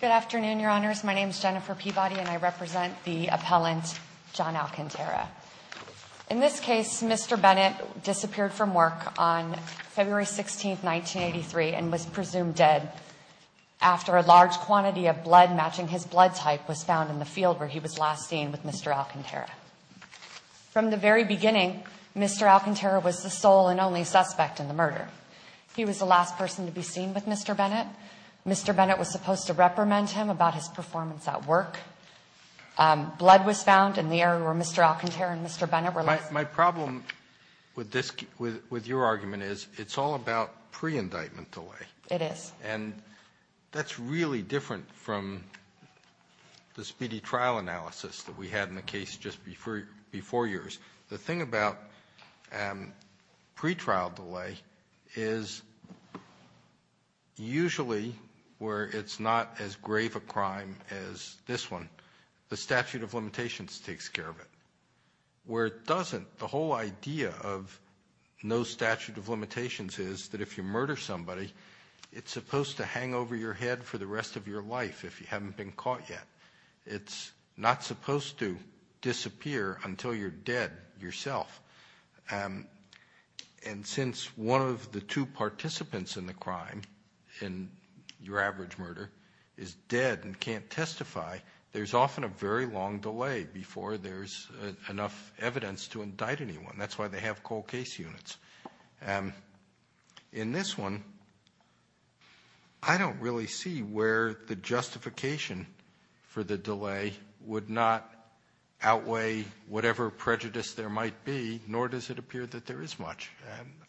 Good afternoon, Your Honors. My name is Jennifer Peabody, and I represent the appellant John Alcantara. In this case, Mr. Bennett disappeared from work on February 16, 1983 and was presumed dead after a large quantity of blood matching his blood type was found in the field where he was last seen with Mr. Alcantara. From the very beginning, Mr. Alcantara was the sole and only suspect in the murder. He was the last person to be seen with Mr. Bennett. Mr. Bennett was supposed to reprimand him about his performance at work. Blood was found in the area where Mr. Alcantara and Mr. Bennett were last seen. My problem with this, with your argument, is it's all about pre-indictment delay. It is. And that's really different from the speedy trial analysis that we had in the case just before before yours. The thing about pre-trial delay is usually where it's not as grave a crime as this one, the statute of limitations takes care of it. Where it doesn't, the whole idea of no statute of limitations is that if you murder somebody, it's supposed to hang over your head for the rest of your life if you haven't been caught yet. It's not supposed to disappear until you're dead yourself. And since one of the two participants in the crime, in your average murder, is dead and can't testify, there's often a very long delay before there's enough evidence to indict anyone. That's why they have cold case units. In this one, I don't really see where the justification for the delay would not outweigh whatever prejudice there might be, nor does it appear that there is much.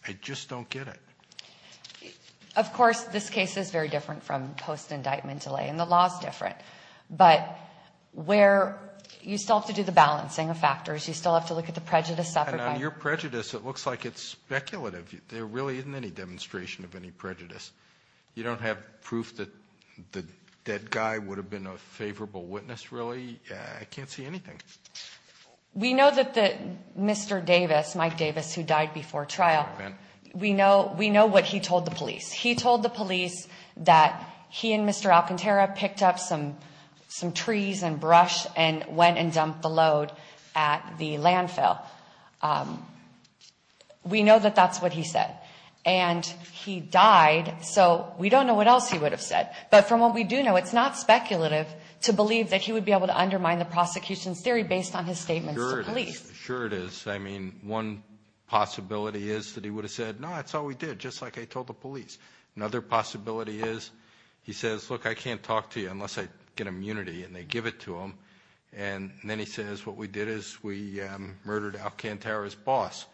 I just don't get it. Of course, this case is very different from post-indictment delay, and the law is different. But where you still have to do the balancing of factors, you still have to look at the prejudice suffered by... And on your prejudice, it looks like it's speculative. There really isn't any demonstration of any prejudice. You don't have proof that the dead guy would have been a favorable witness, really? I can't see anything. We know that Mr. Davis, Mike Davis, who died before trial, we know what he told the police. He told the police that he and Mr. Alcantara picked up some trees and brush and went and dumped the load at the landfill. We know that that's what he said. And he died, so we don't know what else he would have said. But from what we do know, it's not speculative to believe that he would be able to undermine the prosecution's theory based on his statements to police. Sure it is. I mean, one possibility is that he would have said, no, that's all we did, just like I told the police. Another possibility is he says, look, I can't talk to you unless I get immunity, and they give it to him. And then he says, what we did is we murdered Alcantara's boss,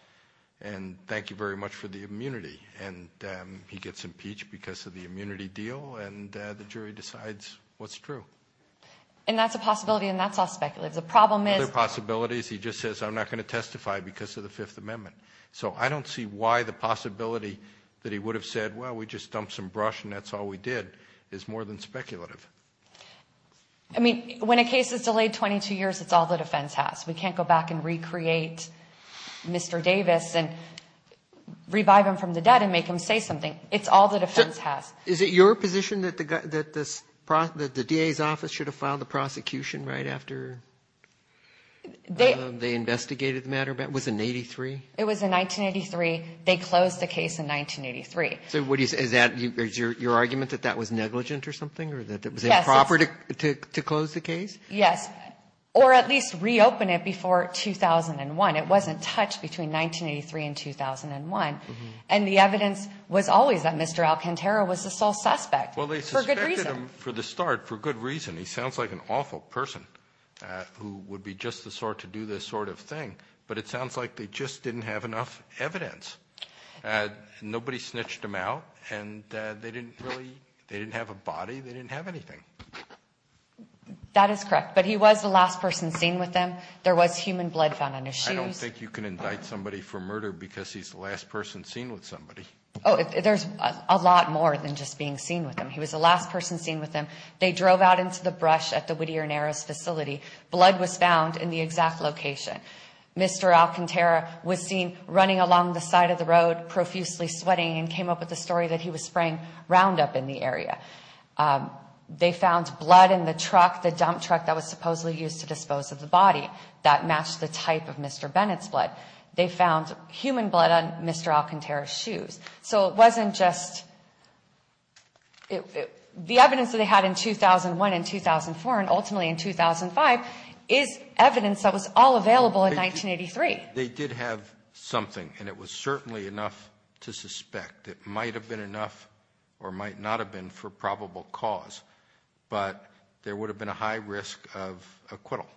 and thank you very much for the immunity. And he gets impeached because of the immunity deal, and the jury decides what's true. And that's a possibility, and that's all speculative. The problem is... Other possibilities, he just says, I'm not going to testify because of the Fifth Amendment. So I don't see why the possibility that he would have said, well, we just dumped some brush and that's all we did, is more than speculative. I mean, when a case is delayed 22 years, it's all the defense has. We can't go back and recreate Mr. Davis and revive him from the dead and make him say something. It's all the defense has. Is it your position that the DA's office should have filed the prosecution right after they investigated the matter? Was it in 1983? It was in 1983. They closed the case in 1983. So what do you say, is that your argument that that was negligent or something, or that it was improper to close the case? Yes, or at least reopen it before 2001. It wasn't touched between Mr. Alcantara was the sole suspect. Well, they suspected him for the start for good reason. He sounds like an awful person who would be just the sort to do this sort of thing, but it sounds like they just didn't have enough evidence. Nobody snitched him out, and they didn't really, they didn't have a body, they didn't have anything. That is correct, but he was the last person seen with them. There was human blood found on his shoes. I don't think you can indict somebody for murder because he's the last person seen with somebody. Oh, there's a lot more than just being seen with them. He was the last person seen with them. They drove out into the brush at the Whittier Narrows facility. Blood was found in the exact location. Mr. Alcantara was seen running along the side of the road, profusely sweating, and came up with the story that he was spraying Roundup in the area. They found blood in the truck, the dump truck that was supposedly used to dispose of the body that matched the type of Mr. Bennett's blood. They found human blood on Mr. Alcantara's shoes. So it wasn't just, the evidence that they had in 2001 and 2004 and ultimately in 2005 is evidence that was all available in 1983. They did have something, and it was certainly enough to suspect. It might have been enough or might not have been for probable cause, but there would have been a high risk of acquittal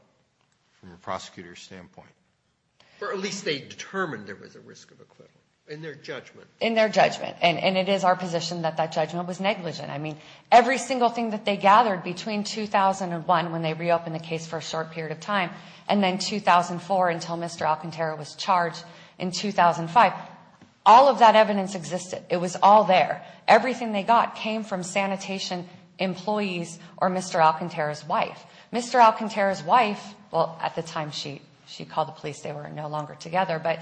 from a prosecutor's standpoint. Or at least they determined there was a risk of acquittal in their judgment. In their judgment, and it is our position that that judgment was negligent. I mean, every single thing that they gathered between 2001, when they reopened the case for a short period of time, and then 2004 until Mr. Alcantara was charged in 2005, all of that evidence existed. It was all there. Everything they got came from sanitation employees or Mr. Alcantara's wife. Mr. Alcantara's wife, well at the time she called the police, they were no longer together, but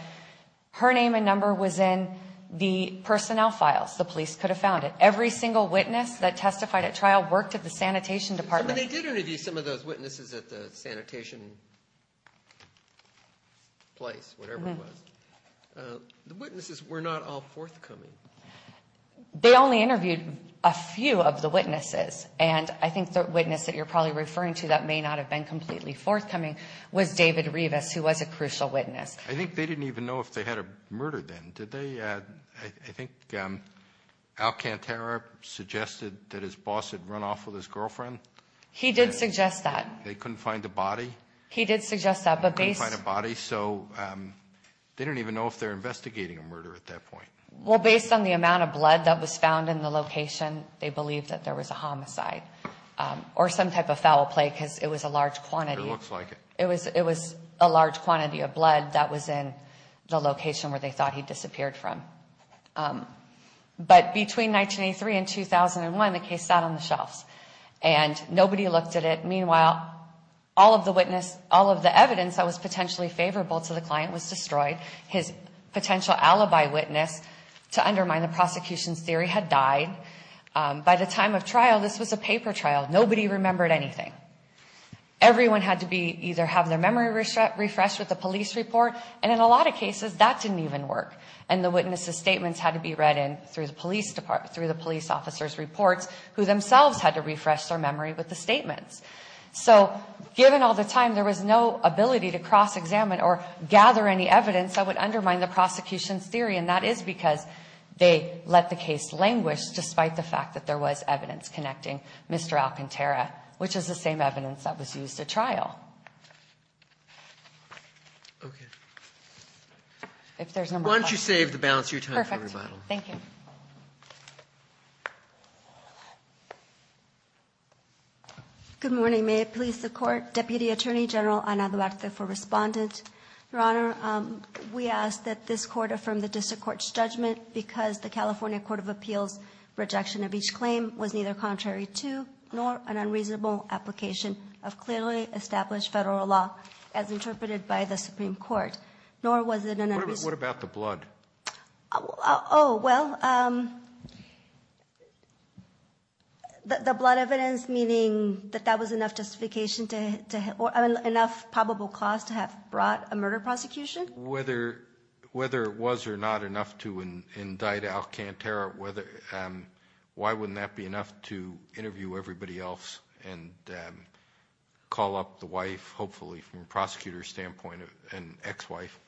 her name and number was in the personnel files. The police could have found it. Every single witness that testified at trial worked at the sanitation department. They did interview some of those witnesses at the sanitation place, whatever it was. The witnesses were not all forthcoming. They only interviewed a few of the witnesses, and I think the witness that you're probably referring to that may not have been completely forthcoming was David Rivas, who was a crucial witness. I think they didn't even know if they had a murder then, did they? I think Alcantara suggested that his boss had run off with his girlfriend. He did suggest that. They couldn't find a body? He did suggest that. They couldn't find a body, so they don't even know if they're investigating a murder at that point. Well, based on the amount of blood that was found in the location, they believed that there was a homicide or some type of It was a large quantity of blood that was in the location where they thought he disappeared from. But between 1983 and 2001, the case sat on the shelves, and nobody looked at it. Meanwhile, all of the evidence that was potentially favorable to the client was destroyed. His potential alibi witness to undermine the prosecution's theory had died. By the time of trial, this was a Everyone had to either have their memory refreshed with the police report, and in a lot of cases, that didn't even work. And the witnesses' statements had to be read in through the police officer's reports, who themselves had to refresh their memory with the statements. So given all the time, there was no ability to cross-examine or gather any evidence that would undermine the prosecution's theory, and that is because they let the case languish despite the fact that there was evidence connecting Mr. Alcantara, which is the same evidence that was used at trial. Why don't you save the balance of your time for rebuttal? Perfect. Thank you. Good morning. May it please the Court, Deputy Attorney General Ana Duarte, for respondent. Your Honor, we ask that this Court affirm the District Court's judgment because the California Court of Appeals' rejection of each claim was neither contrary to nor an unreasonable application of clearly established federal law, as interpreted by the Supreme Court, nor was it an unreasonable... What about the blood? Oh, well, the blood evidence, meaning that that was enough justification to... enough probable cause to have brought a murder prosecution? Whether it was or not enough to indict Alcantara, why wouldn't that be enough to interview everybody else and call up the wife, hopefully, from a prosecutor's standpoint, an ex-wife?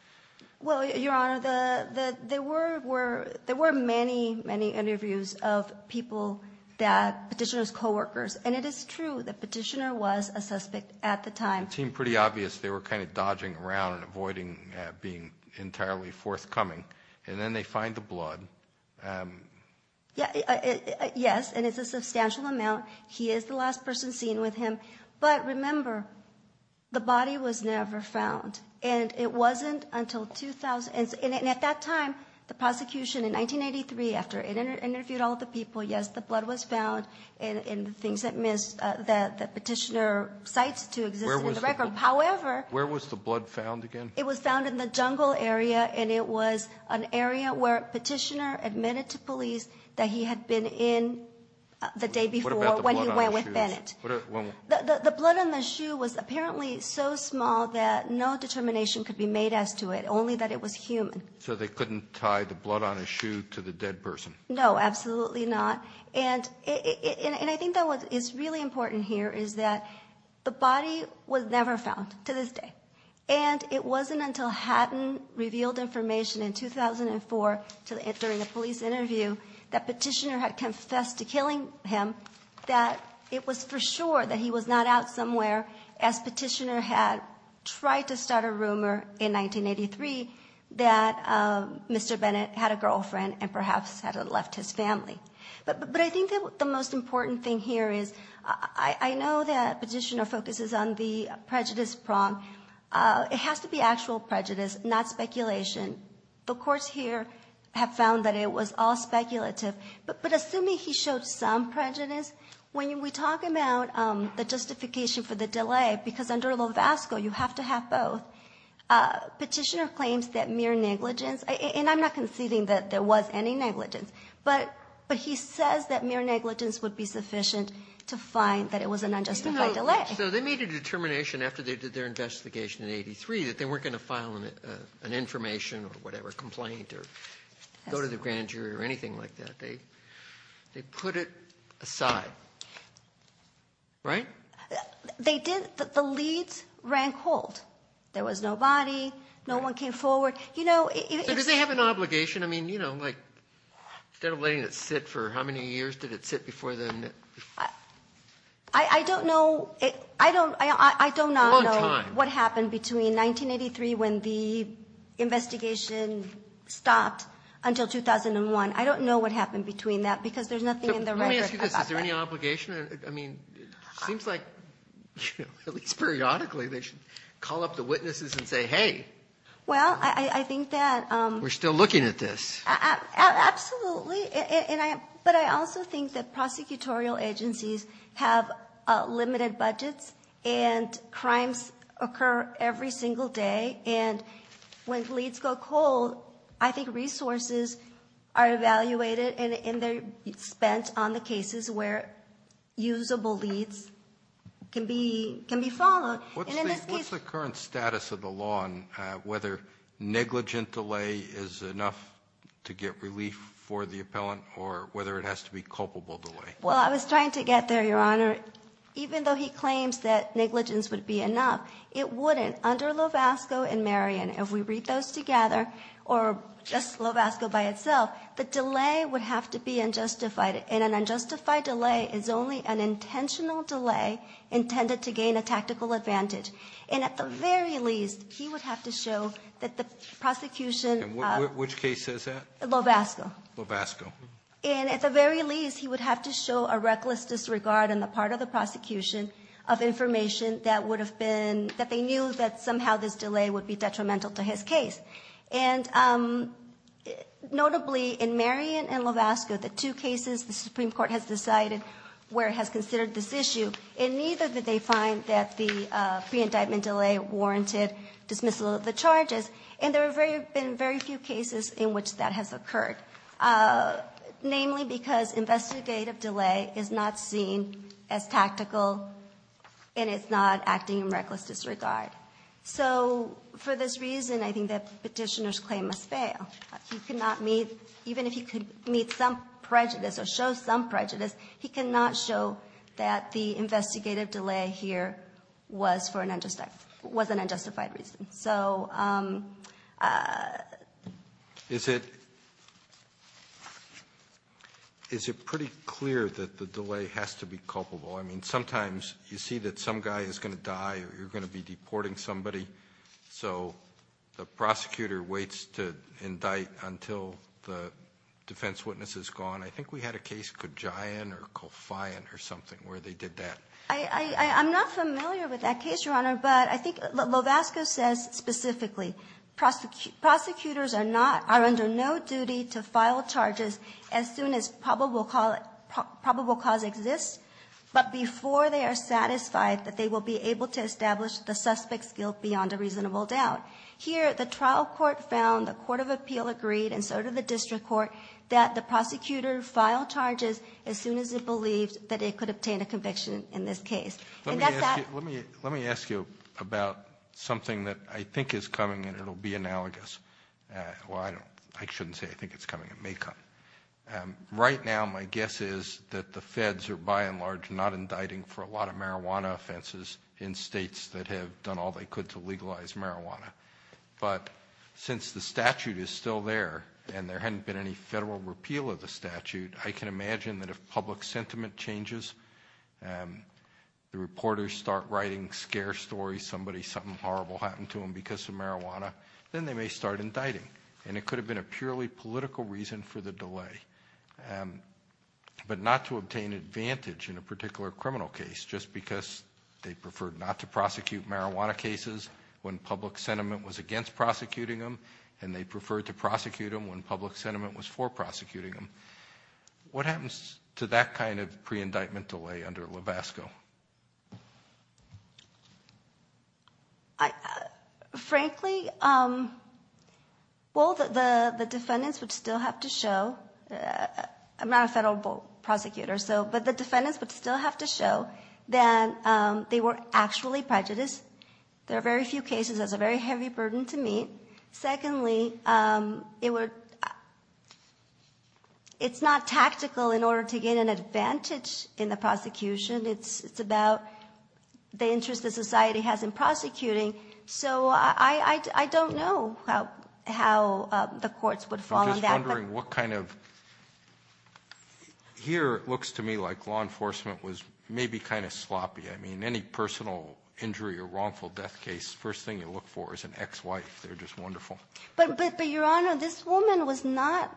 Well, Your Honor, there were many, many interviews of people that... Petitioner's co-workers, and it is true that Petitioner was a suspect at the time. It seemed pretty obvious they were kind of dodging around and avoiding being entirely forthcoming, and then they find the blood. Yes, and it's a substantial amount. He is the last person seen with him. But remember, the body was never found, and it wasn't until 2000... And at that time, the prosecution in 1983, after it interviewed all the people, yes, the blood was found, and the things that Petitioner cites to exist in the record. However... Where was the blood found again? It was found in the jungle area, and it was an area where Petitioner admitted to police that he had been in the day before when he went with Bennett. The blood on the shoe was apparently so small that no determination could be made as to it, only that it was human. So they couldn't tie the blood on his shoe to the dead person? No, absolutely not. And I think that what is really important here is that the it wasn't until Hatton revealed information in 2004, during the police interview, that Petitioner had confessed to killing him, that it was for sure that he was not out somewhere, as Petitioner had tried to start a rumor in 1983 that Mr. Bennett had a girlfriend and perhaps had left his family. But I think that the most important thing here is, I know that Petitioner focuses on the prejudice prong, it has to be actual prejudice, not speculation. The courts here have found that it was all speculative. But assuming he showed some prejudice, when we talk about the justification for the delay, because under Lovasco you have to have both, Petitioner claims that mere negligence, and I'm not conceding that there was any negligence, but he says that mere negligence would be sufficient to find that it was an accident. So they made a determination after they did their investigation in 1983 that they weren't going to file an information or whatever complaint or go to the grand jury or anything like that. They put it aside. Right? They did. The leads ran cold. There was nobody. No one came forward. So does he have an obligation? Instead of letting it sit for how many years did it sit before then? I don't know. I don't know what happened between 1983 when the investigation stopped until 2001. I don't know what happened between that because there's nothing in the record. Let me ask you this. Is there any obligation? I mean, it seems like at least periodically they should call up the witnesses and say, hey. Well, I think that. We're still looking at this. Absolutely. But I also think that prosecutorial agencies have limited budgets and crimes occur every single day and when leads go cold, I think resources are evaluated and they're spent on the cases where usable leads can be followed. What's the current status of the law on whether negligent delay is enough to get relief for the appellant or whether it has to be culpable delay? Well, I was trying to get there, Your Honor. Even though he claims that negligence would be enough, it wouldn't. Under Lovasco and Marion, if we read those together or just Lovasco by itself, the delay would have to be unjustified. And an unjustified delay is only an intentional delay intended to gain a tactical advantage. And at the very least, he would have to show that the prosecution. Which case says that? Lovasco. And at the very least, he would have to show a reckless disregard on the part of the prosecution of information that they knew that somehow this delay would be detrimental to his case. And notably in Marion and Lovasco, the two cases the Supreme Court has decided where it has considered this issue. And neither did they find that the pre-indictment delay warranted dismissal of the charges. And there have been very few cases in which that has occurred. Namely because investigative delay is not seen as tactical and it's not acting in reckless disregard. So for this reason, I think that Petitioner's claim must fail. He could not meet, even if he could meet some prejudice or show some prejudice, he cannot show that the investigative delay here was for an unjustified, was an unjustified reason. So. Alito Is it, is it pretty clear that the delay has to be culpable? I mean, sometimes you see that some guy is going to die or you're going to be deporting somebody, so the prosecutor waits to indict until the defense witness is gone. I think we had a case, Kajian or Kolfian or something, where they did that. I'm not familiar with that case, Your Honor, but I think Lovasco says specifically prosecutors are not, are under no duty to file charges as soon as probable cause exists, but before they are satisfied that they will be able to establish the suspect's guilt beyond a reasonable doubt. Here, the trial court found, the court of appeal agreed, and so did the district court, that the prosecutor filed charges as soon as it believed that it could obtain a conviction in this case. Let me, let me, let me ask you about something that I think is coming and it'll be analogous. Well, I don't, I shouldn't say I think it's coming, it may come. Right now, my guess is that the feds are, by and large, not indicting for a lot of marijuana offenses in states that have done all they could to legalize marijuana, but since the statute is still there and there hadn't been any federal repeal of the statute, I can imagine that if public sentiment changes, the reporters start writing scare stories, somebody, something horrible happened to them because of marijuana, then they may start indicting, and it could have been a purely political reason for the delay, but not to obtain advantage in a particular criminal case just because they preferred not to prosecute marijuana cases when public sentiment was against prosecuting them, and they preferred to prosecute them when public sentiment was for prosecuting them. What happens to that kind of pre-indictment would still have to show, I'm not a federal prosecutor, so, but the defendants would still have to show that they were actually prejudiced. There are very few cases, that's a very heavy burden to me. Secondly, it's not tactical in order to gain an advantage in the prosecution, it's about the interest that society has in that. I was wondering what kind of, here it looks to me like law enforcement was maybe kind of sloppy, I mean, any personal injury or wrongful death case, first thing you look for is an ex-wife, they're just wonderful. But Your Honor, this woman was not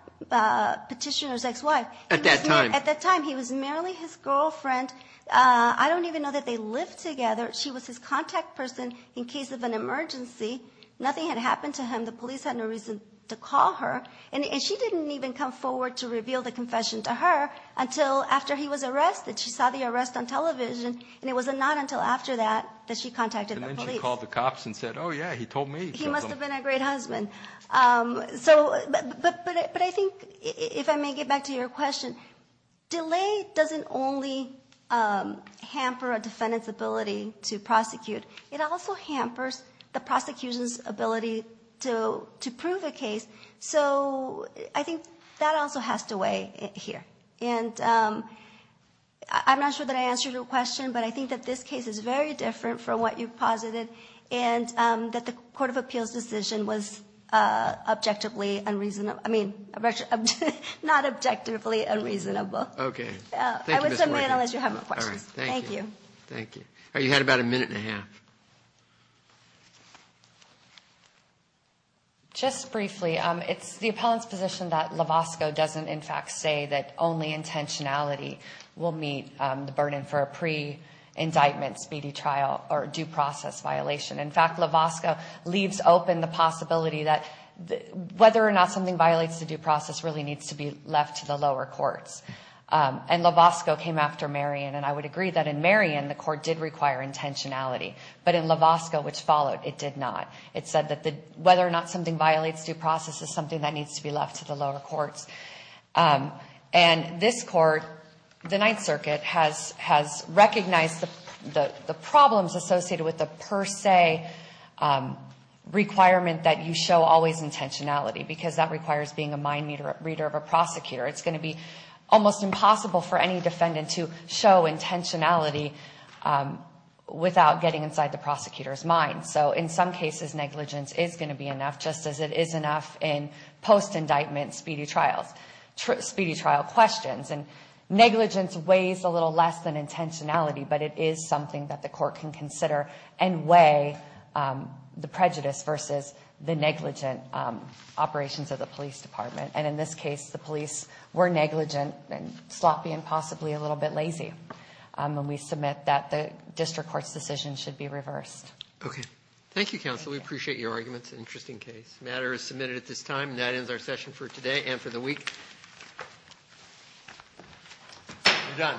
Petitioner's ex-wife. At that time. At that time, he was merely his girlfriend, I don't even know that they lived together, she was his contact person in case of an emergency, nothing had happened to him, the police had no reason to call her, and she didn't even come forward to reveal the confession to her until after he was arrested, she saw the arrest on television, and it was not until after that that she contacted the police. And then she called the cops and said, oh yeah, he told me. He must have been a great husband. So, but I think, if I may get back to your question, delay doesn't only hamper a defendant's ability to prosecute, it also hampers the prosecution's ability to prove a case. So, I think that also has to weigh here. And I'm not sure that I answered your question, but I think that this case is very different from what you've posited, and that the Court of Appeals decision was objectively unreasonable, I mean, not objectively unreasonable. Okay. I will submit unless you have more questions. Thank you. Thank you. You had about a minute and a half. Just briefly, it's the appellant's position that Lovasco doesn't, in fact, say that only intentionality will meet the burden for a pre-indictment speedy trial or due process violation. In fact, Lovasco leaves open the possibility that whether or not something violates the due process really needs to be left to the lower courts. And Lovasco came after Marion, and I would agree that in Marion the court did require intentionality, but in Lovasco, which followed, it did not. It said that whether or not something violates due process is something that needs to be left to the lower courts. And this court, the Ninth Circuit, has recognized the problems associated with the per se requirement that you show always intentionality, because that requires being a mind reader of a prosecutor. It's going to be almost impossible for any defendant to show intentionality without getting inside the prosecutor's mind. So in some cases, negligence is going to be enough, just as it is enough in post-indictment speedy trial questions. And negligence weighs a little less than intentionality, but it is something that the court can consider and weigh the prejudice versus the negligent operations of the police department. And in this case, the police were negligent and sloppy and possibly a little bit lazy. And we submit that the district court's decision should be reversed. Okay. Thank you, counsel. We appreciate your arguments. Interesting case. The matter is submitted at this time, and that ends our session for today and for the week. We're done.